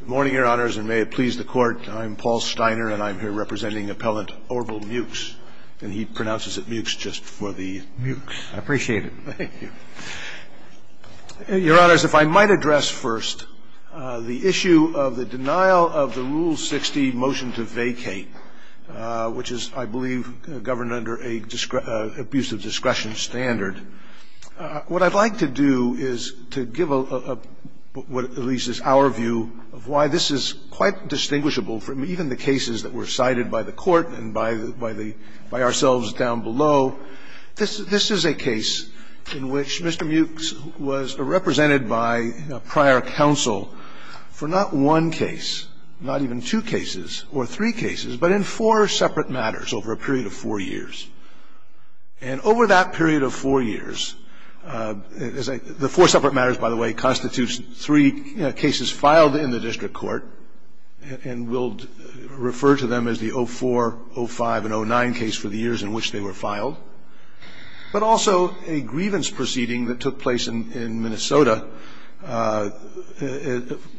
Good morning, Your Honors, and may it please the Court, I'm Paul Steiner, and I'm here representing Appellant Orville Meaux, and he pronounces it Meaux just for the Meaux. I appreciate it. Thank you. Your Honors, if I might address first the issue of the denial of the Rule 60 motion to vacate, which is, I believe, governed under an abuse of discretion standard, what I'd like to do is to give what at least is our view of why this is quite distinguishable from even the cases that were cited by the Court and by ourselves down below. This is a case in which Mr. Meaux was represented by prior counsel for not one case, not even two cases or three cases, but in four separate matters over a period of four years. And over that period of four years, the four separate matters, by the way, constitutes three cases filed in the District Court, and we'll refer to them as the 04, 05, and 09 case for the years in which they were filed, but also a grievance proceeding that took place in Minnesota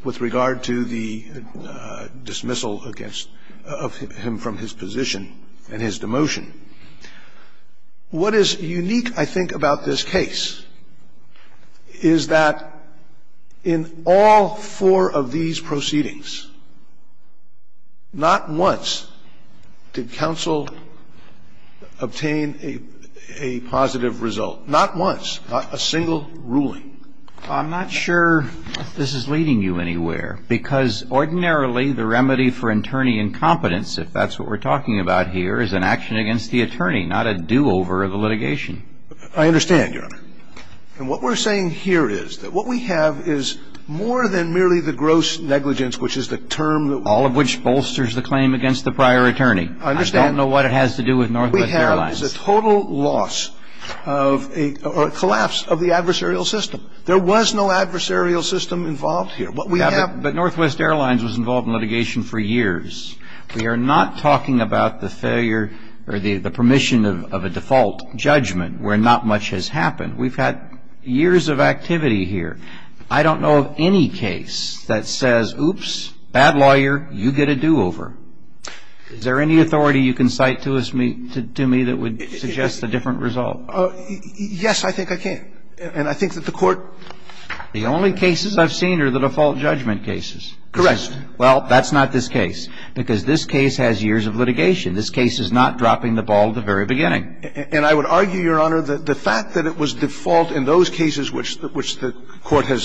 with regard to the dismissal of him from his position and his demotion. What is unique, I think, about this case is that in all four of these proceedings, not once did counsel obtain a positive result, not once, not a single ruling. I'm not sure this is leading you anywhere, because ordinarily the remedy for attorney incompetence, if that's what we're talking about here, is an action against the attorney, not a do-over of the litigation. I understand, Your Honor. And what we're saying here is that what we have is more than merely the gross negligence, which is the term that we have. All of which bolsters the claim against the prior attorney. I understand. I don't know what it has to do with Northwest Airlines. What we have is a total loss of a collapse of the adversarial system. There was no adversarial system involved here. But we have But Northwest Airlines was involved in litigation for years. We are not talking about the failure or the permission of a default judgment where not much has happened. We've had years of activity here. I don't know of any case that says, oops, bad lawyer, you get a do-over. Is there any authority you can cite to me that would suggest a different result? Yes, I think I can. And I think that the Court The only cases I've seen are the default judgment cases. Correct. Well, that's not this case, because this case has years of litigation. This case is not dropping the ball at the very beginning. And I would argue, Your Honor, that the fact that it was default in those cases which the Court has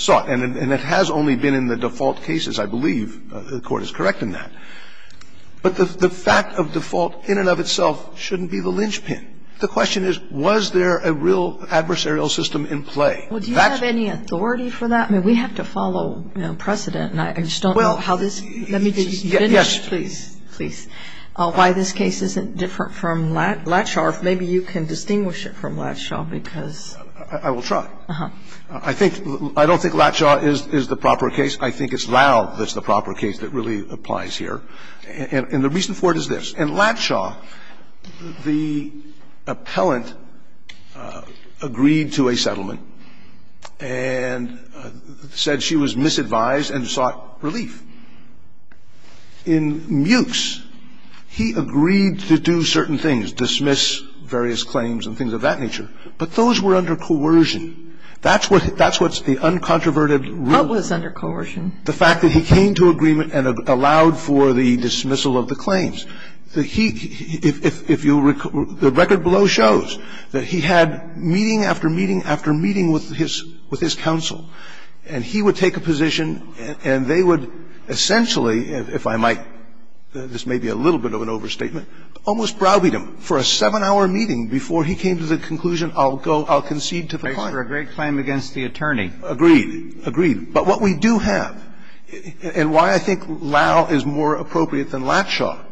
sought, and it has only been in the default cases, I believe the Court is correct in that. But the fact of default in and of itself shouldn't be the linchpin. The question is, was there a real adversarial system in play? Well, do you have any authority for that? I mean, we have to follow, you know, precedent, and I just don't know how this Let me just finish, please, please, why this case isn't different from Latshaw. If maybe you can distinguish it from Latshaw, because I will try. I think – I don't think Latshaw is the proper case. I think it's Lau that's the proper case that really applies here. And the reason for it is this. In Latshaw, the appellant agreed to a settlement. And said she was misadvised and sought relief. In Mewkes, he agreed to do certain things, dismiss various claims and things of that nature, but those were under coercion. That's what's the uncontroverted rule. What was under coercion? The fact that he came to agreement and allowed for the dismissal of the claims. The record below shows that he had meeting after meeting after meeting with his counsel, and he would take a position and they would essentially, if I might, this may be a little bit of an overstatement, almost browbeat him for a 7-hour meeting before he came to the conclusion, I'll go, I'll concede to the client. A great claim against the attorney. Agreed, agreed. But what we do have, and why I think Lowe is more appropriate than Latshaw,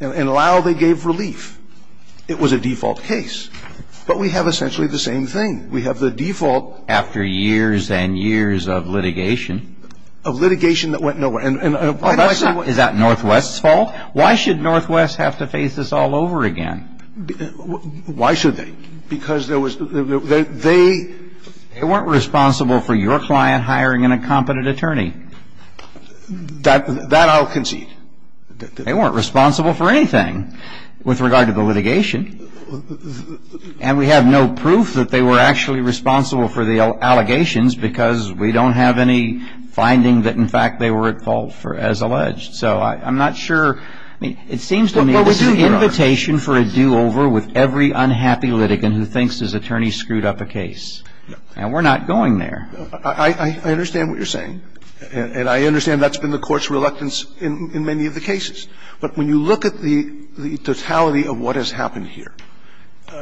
in Lowe they gave relief. It was a default case. But we have essentially the same thing. We have the default. After years and years of litigation. Of litigation that went nowhere. And why does that? Is that Northwest's fault? Why should Northwest have to face this all over again? Why should they? Because there was, they. They weren't responsible for your client hiring an incompetent attorney. That I'll concede. They weren't responsible for anything with regard to the litigation. And we have no proof that they were actually responsible for the allegations because we don't have any finding that in fact they were at fault as alleged. So I'm not sure, I mean, it seems to me this is an invitation for a do-over with every unhappy litigant who thinks his attorney screwed up a case. And we're not going there. I understand what you're saying. And I understand that's been the Court's reluctance in many of the cases. But when you look at the totality of what has happened here,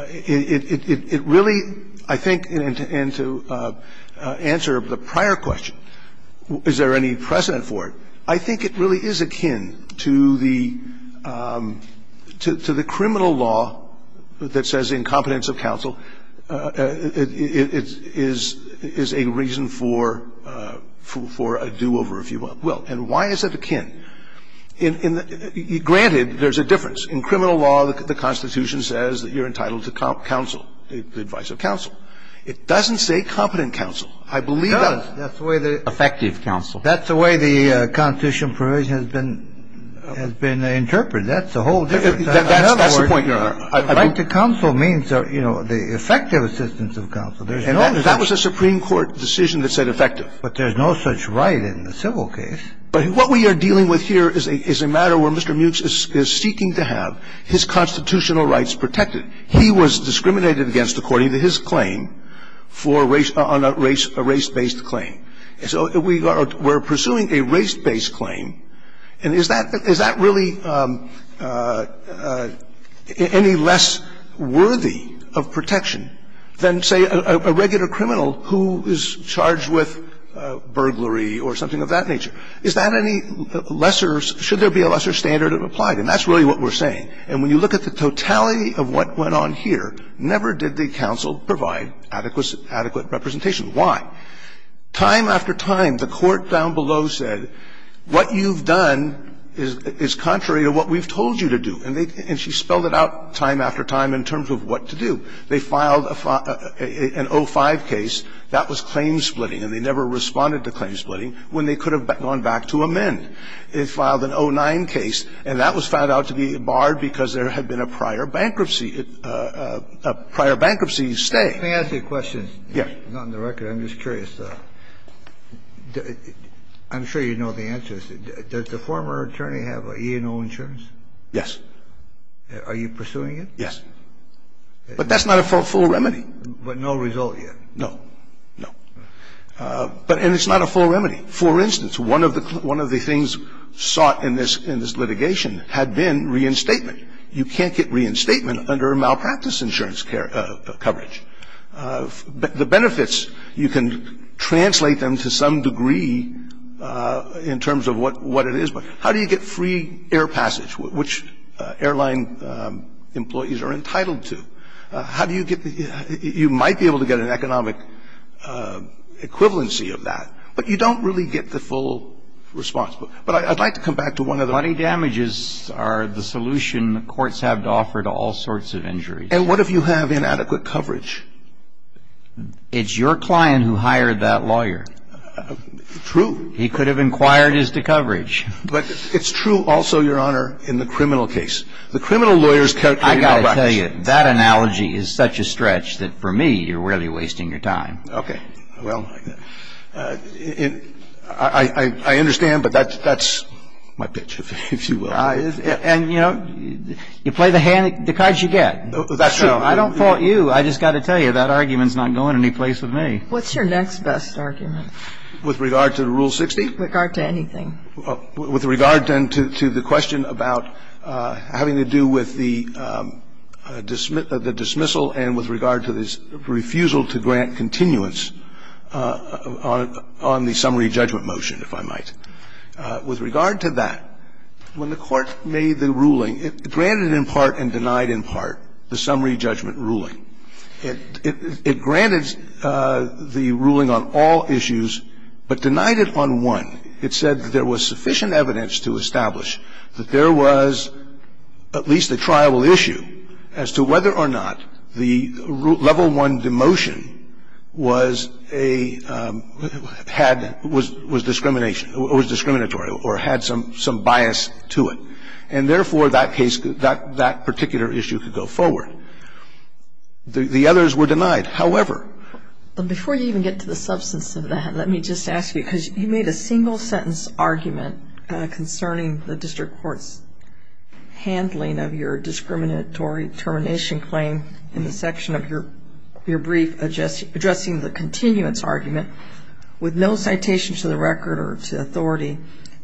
it really, I think, and to answer the prior question, is there any precedent for it, I think it really is akin to the criminal law that says the incompetence of counsel, it is akin to the incompetence of counsel, is a reason for a do-over, if you will. And why is it akin? Granted, there's a difference. In criminal law, the Constitution says that you're entitled to counsel, the advice of counsel. It doesn't say competent counsel. I believe that's the way the- Effective counsel. That's the way the Constitution provision has been interpreted. That's the whole difference. That's the point, Your Honor. The right to counsel means, you know, the effective assistance of counsel. And that was a Supreme Court decision that said effective. But there's no such right in the civil case. But what we are dealing with here is a matter where Mr. Mewkes is seeking to have his constitutional rights protected. He was discriminated against according to his claim for a race-based claim. So we are pursuing a race-based claim. And is that really any less worthy of protection than, say, a regular criminal who is charged with burglary or something of that nature? Is that any lesser – should there be a lesser standard applied? And that's really what we're saying. And when you look at the totality of what went on here, never did the counsel provide adequate representation. Why? Time after time, the Court down below said, what you've done is contrary to what we've told you to do. And they – and she spelled it out time after time in terms of what to do. They filed a – an 05 case. That was claim-splitting, and they never responded to claim-splitting when they could have gone back to amend. They filed an 09 case, and that was found out to be barred because there had been a prior bankruptcy – a prior bankruptcy stay. If I may ask a question, not on the record, I'm just curious. I'm sure you know the answer. Does the former attorney have E&O insurance? Yes. Are you pursuing it? Yes. But that's not a full remedy. But no result yet? No. No. But – and it's not a full remedy. For instance, one of the – one of the things sought in this – in this litigation had been reinstatement. You can't get reinstatement under malpractice insurance coverage. The benefits, you can translate them to some degree in terms of what – what it is. But how do you get free air passage, which airline employees are entitled to? How do you get the – you might be able to get an economic equivalency of that, but you don't really get the full response. But I'd like to come back to one other thing. Money damages are the solution courts have to offer to all sorts of injuries. And what if you have inadequate coverage? It's your client who hired that lawyer. True. He could have inquired as to coverage. But it's true also, Your Honor, in the criminal case. The criminal lawyers characterize – I got to tell you, that analogy is such a stretch that for me, you're really wasting your time. Okay. Well, I – I understand, but that's – that's my pitch, if you will. And, you know, you play the hand – the cards you get. That's true. I don't fault you. I just got to tell you, that argument's not going anyplace with me. What's your next best argument? With regard to Rule 60? With regard to anything. With regard, then, to the question about having to do with the dismissal and with regard to this refusal to grant continuance on the summary judgment motion, if I might. With regard to that, when the Court made the ruling, it granted in part and denied in part the summary judgment ruling. It – it granted the ruling on all issues, but denied it on one. It said that there was sufficient evidence to establish that there was at least a triable issue as to whether or not the level one demotion was a – had – was discrimination – was discriminatory or had some – some bias to it. And therefore, that case – that particular issue could go forward. The others were denied. However – But before you even get to the substance of that, let me just ask you, because you made a single-sentence argument concerning the District Court's handling of your discriminatory termination claim in the section of your – your brief addressing the continuance argument with no citation to the record or to authority,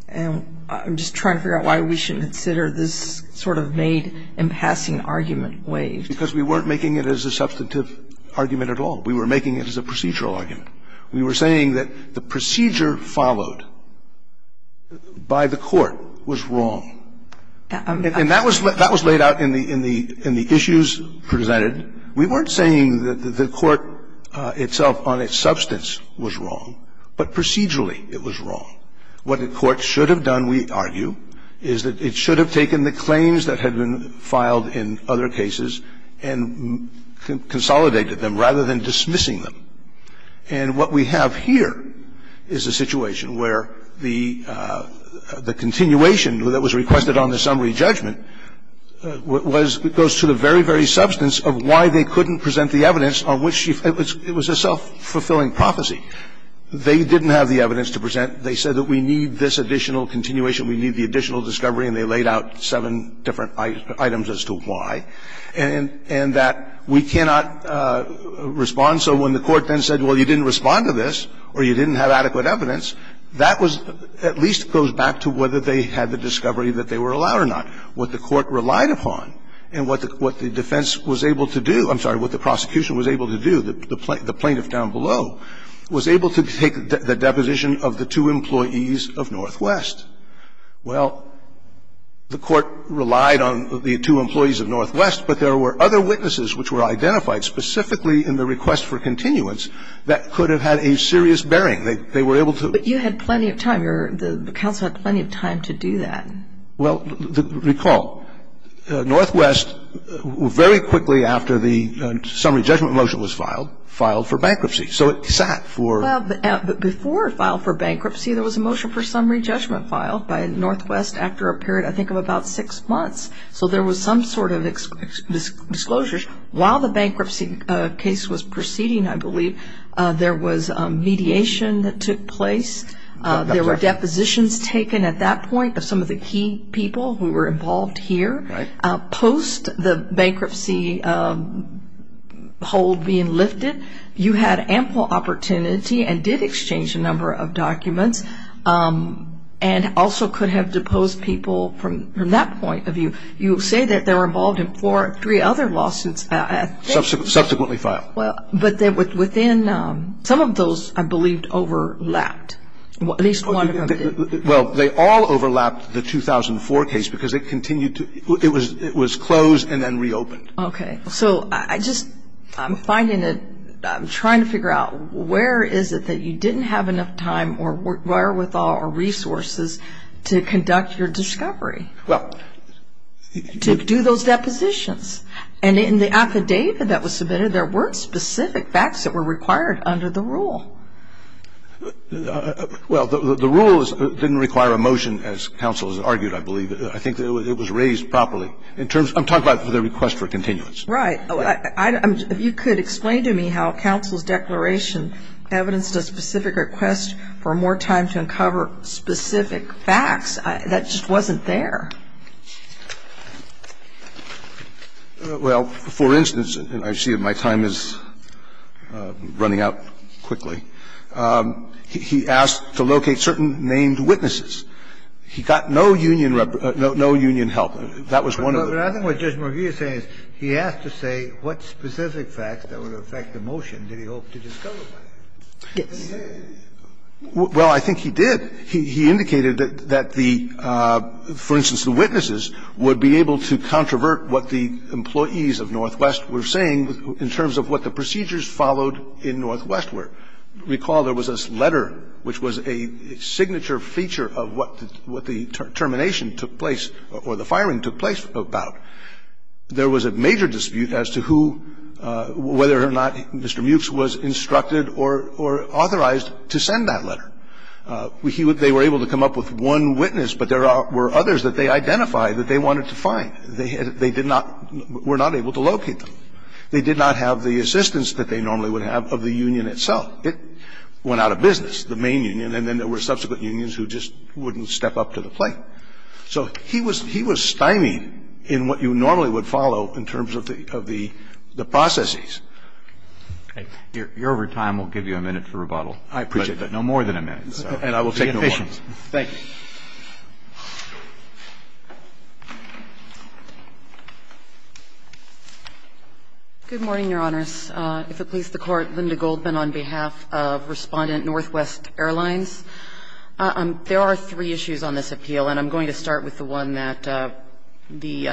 and I'm just trying to figure out why we shouldn't consider this sort of made in passing argument waived. Because we weren't making it as a substantive argument at all. We were making it as a procedural argument. We were saying that the procedure followed by the Court was wrong. And that was – that was laid out in the – in the issues presented. We weren't saying that the Court itself on its substance was wrong, but procedurally it was wrong. What the Court should have done, we argue, is that it should have taken the claims that had been filed in other cases and consolidated them rather than dismissing them. And what we have here is a situation where the – the continuation that was requested on the summary judgment was – goes to the very, very substance of why they couldn't present the evidence on which you – it was a self-fulfilling prophecy. They didn't have the evidence to present. They said that we need this additional continuation. We need the additional discovery. And they laid out seven different items as to why. And that we cannot respond. So when the Court then said, well, you didn't respond to this or you didn't have adequate evidence, that was – at least goes back to whether they had the discovery that they were allowed or not. What the Court relied upon and what the – what the defense was able to do – I'm sorry, what the prosecution was able to do, the plaintiff down below, was able to take the deposition of the two employees of Northwest. Well, the Court relied on the two employees of Northwest, but there were other witnesses which were identified specifically in the request for continuance that could have had a serious bearing. They were able to – But you had plenty of time. The counsel had plenty of time to do that. Well, recall, Northwest, very quickly after the summary judgment motion was filed, filed for bankruptcy. So it sat for – Well, before it filed for bankruptcy, there was a motion for summary judgment filed by Northwest after a period, I think, of about six months. So there was some sort of disclosures. While the bankruptcy case was proceeding, I believe, there was mediation that took place. There were depositions taken at that point of some of the key people who were involved here. Right. Post the bankruptcy hold being lifted, you had ample opportunity and did exchange a number of documents and also could have deposed people from that point of view. You say that they were involved in four or three other lawsuits at that point. Subsequently filed. Well, but within – some of those, I believe, overlapped, at least one of them did. Well, they all overlapped, the 2004 case, because it continued to – it was closed and then reopened. Okay. So I just – I'm finding that – I'm trying to figure out where is it that you didn't have enough time or wherewithal or resources to conduct your discovery? Well – To do those depositions. And in the affidavit that was submitted, there weren't specific facts that were required under the rule. Well, the rule didn't require a motion, as counsel has argued, I believe. I think it was raised properly in terms – I'm talking about the request for continuance. Right. If you could explain to me how counsel's declaration evidenced a specific request for a motion, I think you would have more time to uncover specific facts that just wasn't there. Well, for instance, and I see that my time is running out quickly, he asked to locate certain named witnesses. He got no union help. That was one of the – But I think what Judge McGee is saying is he asked to say what specific facts that would affect the motion that he hoped to discover. Yes. Well, I think he did. He indicated that the – for instance, the witnesses would be able to controvert what the employees of Northwest were saying in terms of what the procedures followed in Northwest were. Recall there was this letter, which was a signature feature of what the termination took place or the firing took place about. There was a major dispute as to who – whether or not Mr. Mewkes was instructed or authorized to send that letter. They were able to come up with one witness, but there were others that they identified that they wanted to find. They did not – were not able to locate them. They did not have the assistance that they normally would have of the union itself. It went out of business, the main union, and then there were subsequent unions who just wouldn't step up to the plate. So he was – he was stymied in what you normally would follow in terms of the processes. Roberts. You're over time. We'll give you a minute for rebuttal. I appreciate that. No more than a minute. And I will take no questions. Thank you. Good morning, Your Honors. If it please the Court, Linda Goldman on behalf of Respondent Northwest Airlines. There are three issues on this appeal, and I'm going to start with the one that the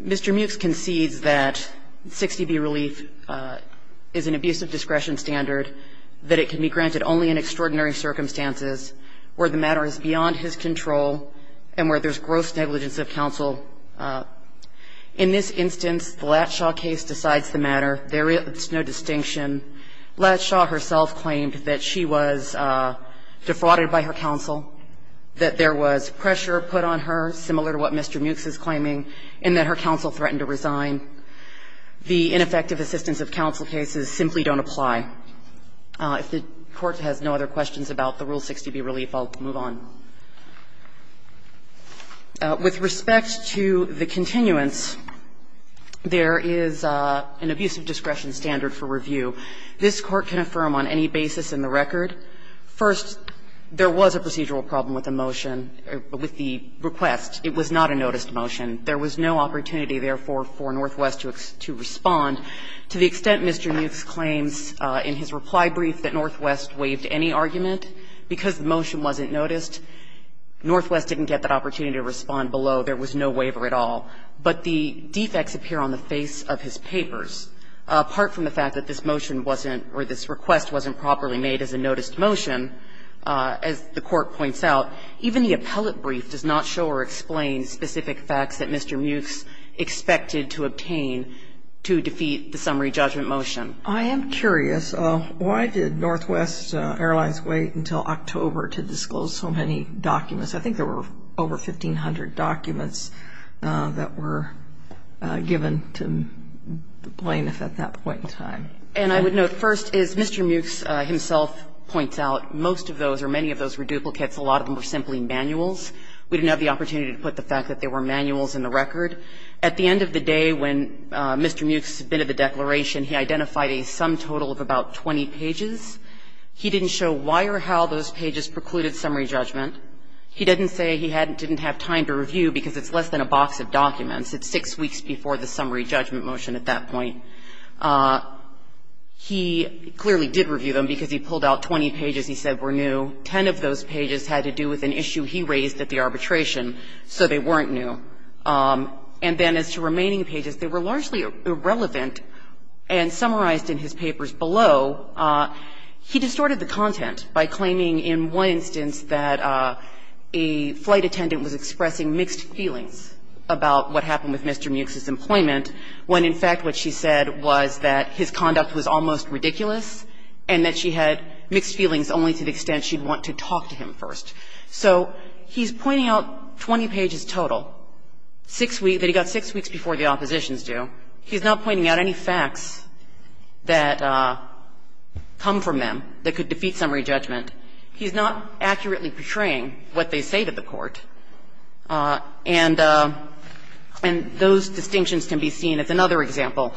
Mr. Muchs concedes that 60B relief is an abuse of discretion standard, that it can be granted only in extraordinary circumstances where the matter is beyond his control and where there's gross negligence of counsel. In this instance, the Latshaw case decides the matter. There is no distinction. Latshaw herself claimed that she was defrauded by her counsel, that there was pressure put on her, similar to what Mr. Muchs is claiming, and that her counsel threatened to resign. The ineffective assistance of counsel cases simply don't apply. If the Court has no other questions about the Rule 60B relief, I'll move on. With respect to the continuance, there is an abuse of discretion standard for review. This Court can affirm on any basis in the record, first, there was a procedural problem with the motion, or with the request. It was not a noticed motion. There was no opportunity, therefore, for Northwest to respond. To the extent Mr. Muchs claims in his reply brief that Northwest waived any argument because the motion wasn't noticed, Northwest didn't get that opportunity to respond below. There was no waiver at all. But the defects appear on the face of his papers. Apart from the fact that this motion wasn't, or this request wasn't properly made as a noticed motion, as the Court points out, even the appellate brief does not show or explain specific facts that Mr. Muchs expected to obtain to defeat the summary judgment motion. I am curious, why did Northwest Airlines wait until October to disclose so many documents? I think there were over 1,500 documents that were given to the plaintiff at that point in time. And I would note, first, as Mr. Muchs himself points out, most of those or many of those were duplicates. A lot of them were simply manuals. We didn't have the opportunity to put the fact that there were manuals in the record. At the end of the day, when Mr. Muchs submitted the declaration, he identified a sum total of about 20 pages. He didn't show why or how those pages precluded summary judgment. He didn't say he didn't have time to review because it's less than a box of documents. It's 6 weeks before the summary judgment motion at that point. He clearly did review them because he pulled out 20 pages he said were new. Ten of those pages had to do with an issue he raised at the arbitration, so they weren't new. And then as to remaining pages, they were largely irrelevant. And summarized in his papers below, he distorted the content by claiming in one instance that a flight attendant was expressing mixed feelings about what happened with Mr. Muchs. And what he said was that his conduct was almost ridiculous and that she had mixed feelings only to the extent she'd want to talk to him first. So he's pointing out 20 pages total, 6 weeks, that he got 6 weeks before the oppositions do. He's not pointing out any facts that come from them that could defeat summary judgment. He's not accurately portraying what they say to the court. And those distinctions can be seen as another example.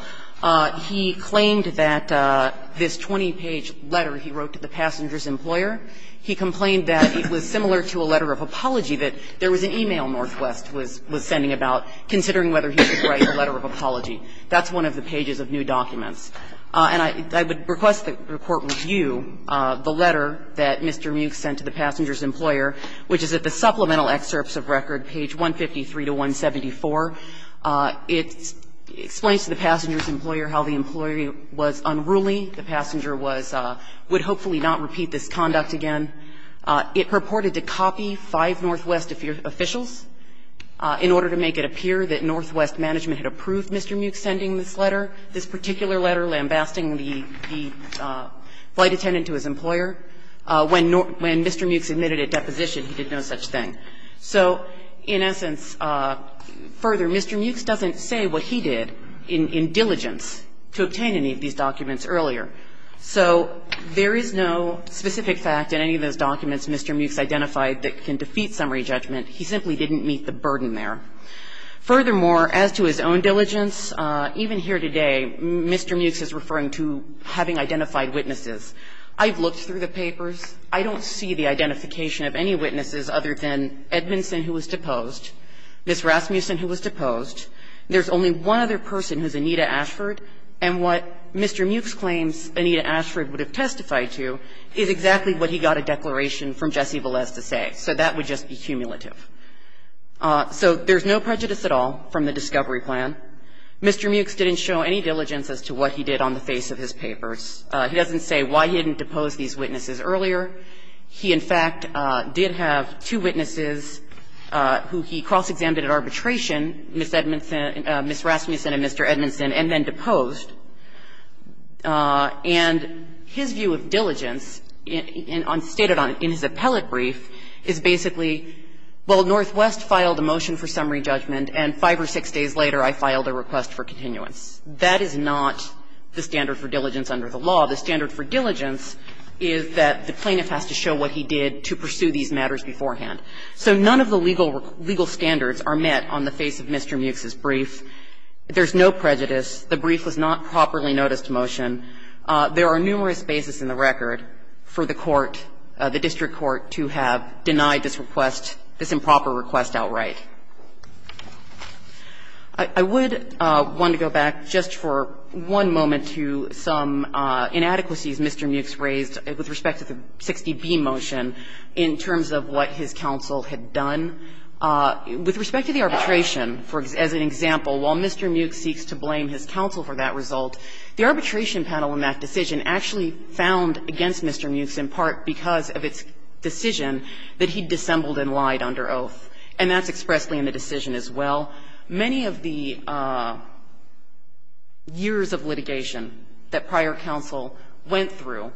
He claimed that this 20-page letter he wrote to the passenger's employer, he complained that it was similar to a letter of apology, that there was an e-mail Northwest was sending about considering whether he could write a letter of apology. That's one of the pages of new documents. And I would request that the Court review the letter that Mr. Muchs sent to the passenger's employer. It's on page 153 to 174. It explains to the passenger's employer how the employee was unruly. The passenger was – would hopefully not repeat this conduct again. It purported to copy five Northwest officials in order to make it appear that Northwest management had approved Mr. Muchs sending this letter, this particular letter lambasting the flight attendant to his employer. When Mr. Muchs admitted at deposition, he did no such thing. So, in essence, further, Mr. Muchs doesn't say what he did in diligence to obtain any of these documents earlier. So there is no specific fact in any of those documents Mr. Muchs identified that can defeat summary judgment. He simply didn't meet the burden there. Furthermore, as to his own diligence, even here today, Mr. Muchs is referring to having identified witnesses. I've looked through the papers. I don't see the identification of any witnesses other than Edmondson, who was deposed, Ms. Rasmussen, who was deposed. There's only one other person who's Anita Ashford. And what Mr. Muchs claims Anita Ashford would have testified to is exactly what he got a declaration from Jesse Velez to say. So that would just be cumulative. So there's no prejudice at all from the discovery plan. Mr. Muchs didn't show any diligence as to what he did on the face of his papers. He doesn't say why he didn't depose these witnesses earlier. He, in fact, did have two witnesses who he cross-examined at arbitration, Ms. Edmondson, Ms. Rasmussen and Mr. Edmondson, and then deposed. And his view of diligence in his appellate brief is basically, well, Northwest filed a motion for summary judgment and five or six days later I filed a request for continuance. That is not the standard for diligence under the law. The standard for diligence is that the plaintiff has to show what he did to pursue these matters beforehand. So none of the legal standards are met on the face of Mr. Muchs's brief. There's no prejudice. The brief was not properly noticed to motion. There are numerous bases in the record for the court, the district court, to have denied this request, this improper request outright. I would want to go back just for one moment to some inadequacies Mr. Muchs raised with respect to the 60B motion in terms of what his counsel had done. With respect to the arbitration, as an example, while Mr. Muchs seeks to blame his counsel for that result, the arbitration panel in that decision actually found against Mr. Muchs in part because of its decision that he dissembled and lied under oath. And that's expressly in the decision as well. Many of the years of litigation that prior counsel went through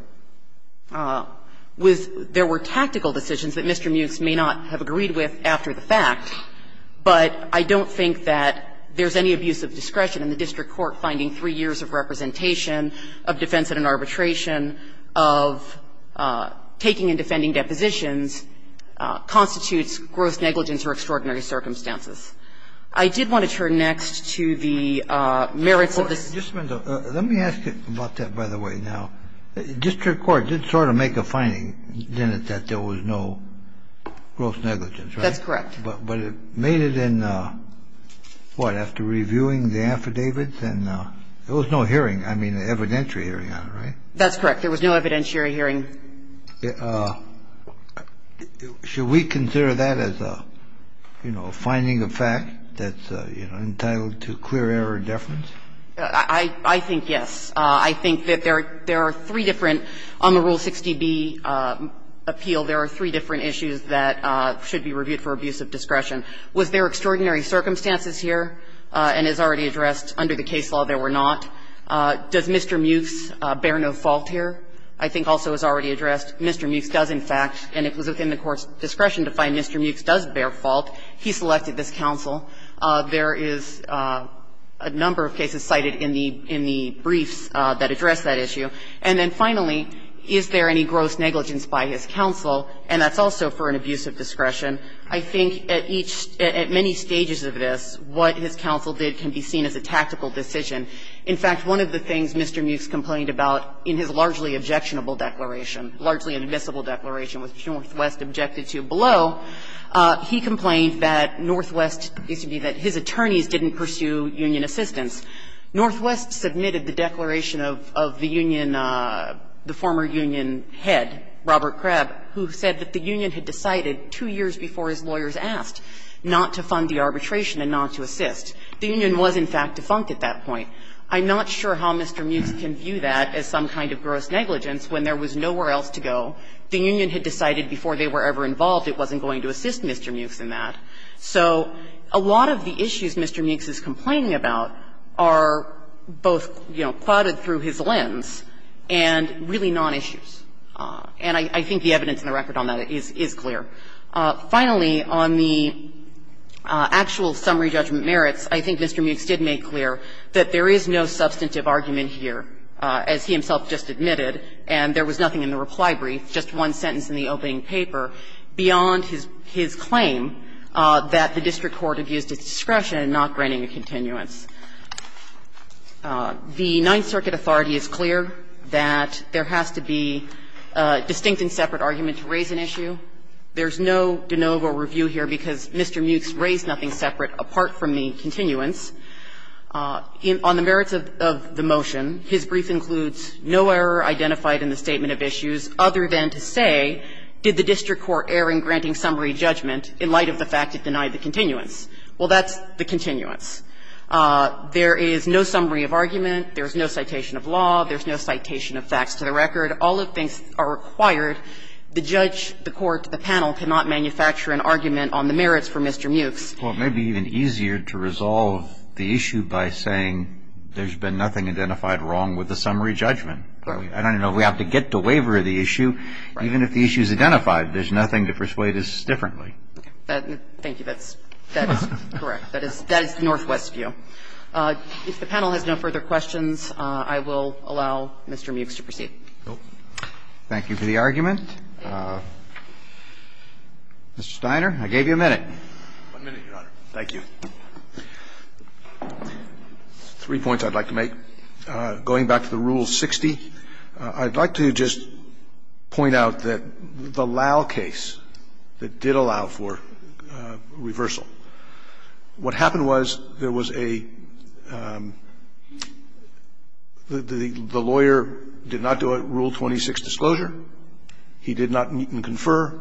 was there were tactical decisions that Mr. Muchs may not have agreed with after the fact, but I don't think that there's any abuse of discretion in the district court finding three years of representation of defense in an arbitration of taking and defending depositions constitutes gross negligence or extraordinary circumstances. I did want to turn next to the merits of this. Let me ask you about that, by the way. Now, district court did sort of make a finding, didn't it, that there was no gross negligence, right? That's correct. But it made it in, what, after reviewing the affidavits and there was no hearing. I mean evidentiary hearing on it, right? That's correct. There was no evidentiary hearing. Should we consider that as a, you know, finding of fact that's, you know, entitled to clear error or deference? I think yes. I think that there are three different, on the Rule 60b appeal, there are three different issues that should be reviewed for abuse of discretion. Was there extraordinary circumstances here? And as already addressed, under the case law there were not. Does Mr. Mewes bear no fault here? I think also as already addressed, Mr. Mewes does in fact, and it was within the Court's discretion to find Mr. Mewes does bear fault. He selected this counsel. There is a number of cases cited in the briefs that address that issue. And then finally, is there any gross negligence by his counsel? And that's also for an abuse of discretion. I think at each, at many stages of this, what his counsel did can be seen as a tactical decision. In fact, one of the things Mr. Mewes complained about in his largely objectionable declaration, largely admissible declaration, which Northwest objected to below, he complained that Northwest, that his attorneys didn't pursue union assistance. Northwest submitted the declaration of the union, the former union head, Robert Kreb, who said that the union had decided two years before his lawyers asked not to fund the arbitration and not to assist. The union was in fact defunct at that point. I'm not sure how Mr. Mewes can view that as some kind of gross negligence when there was nowhere else to go. The union had decided before they were ever involved it wasn't going to assist Mr. Mewes in that. So a lot of the issues Mr. Mewes is complaining about are both, you know, clouded through his lens and really nonissues. And I think the evidence in the record on that is clear. Finally, on the actual summary judgment merits, I think Mr. Mewes did make clear that there is no substantive argument here, as he himself just admitted, and there was nothing in the reply brief, just one sentence in the opening paper, beyond his claim that the district court abused its discretion in not granting a continuance. The Ninth Circuit authority is clear that there has to be a distinct and separate argument to raise an issue. There's no de novo review here because Mr. Mewes raised nothing separate apart from the continuance. On the merits of the motion, his brief includes no error identified in the statement of issues other than to say, did the district court err in granting summary judgment in light of the fact it denied the continuance? Well, that's the continuance. There is no summary of argument. There's no citation of law. There's no citation of facts to the record. All of these are required. The judge, the court, the panel cannot manufacture an argument on the merits for Mr. Mewes. Well, it may be even easier to resolve the issue by saying there's been nothing identified wrong with the summary judgment. I don't know if we have to get the waiver of the issue. Even if the issue is identified, there's nothing to persuade us differently. Thank you. That's correct. That is the northwest view. If the panel has no further questions, I will allow Mr. Mewes to proceed. Thank you for the argument. Mr. Steiner, I gave you a minute. One minute, Your Honor. Thank you. Three points I'd like to make. Going back to the Rule 60, I'd like to just point out that the Lau case that did allow for reversal, what happened was there was a – the lawyer did not do a Rule 26 disclosure. He did not meet and confer.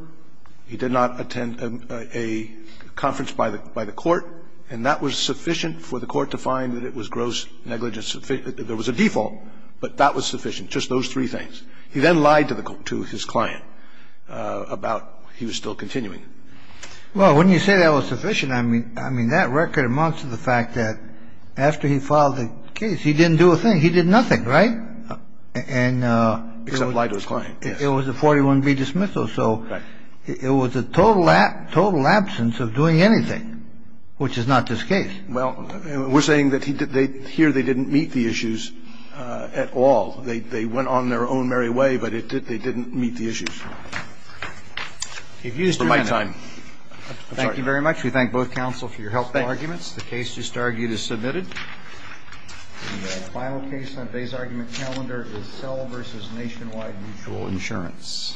He did not attend a conference by the court. And that was sufficient for the court to find that it was gross negligence. There was a default, but that was sufficient, just those three things. He then lied to his client about he was still continuing. Well, wouldn't you say that was sufficient? I mean, that record amounts to the fact that after he filed the case, he didn't do a thing. He did nothing, right? Except lie to his client, yes. It was a 41B dismissal, so it was a total absence of doing anything, which is not this case. Well, we're saying that here they didn't meet the issues at all. They went on their own merry way, but they didn't meet the issues. For my time. Thank you very much. We thank both counsel for your helpful arguments. The case just argued is submitted. The final case on today's argument calendar is Sell v. Nationwide Mutual Insurance. Thank you very much.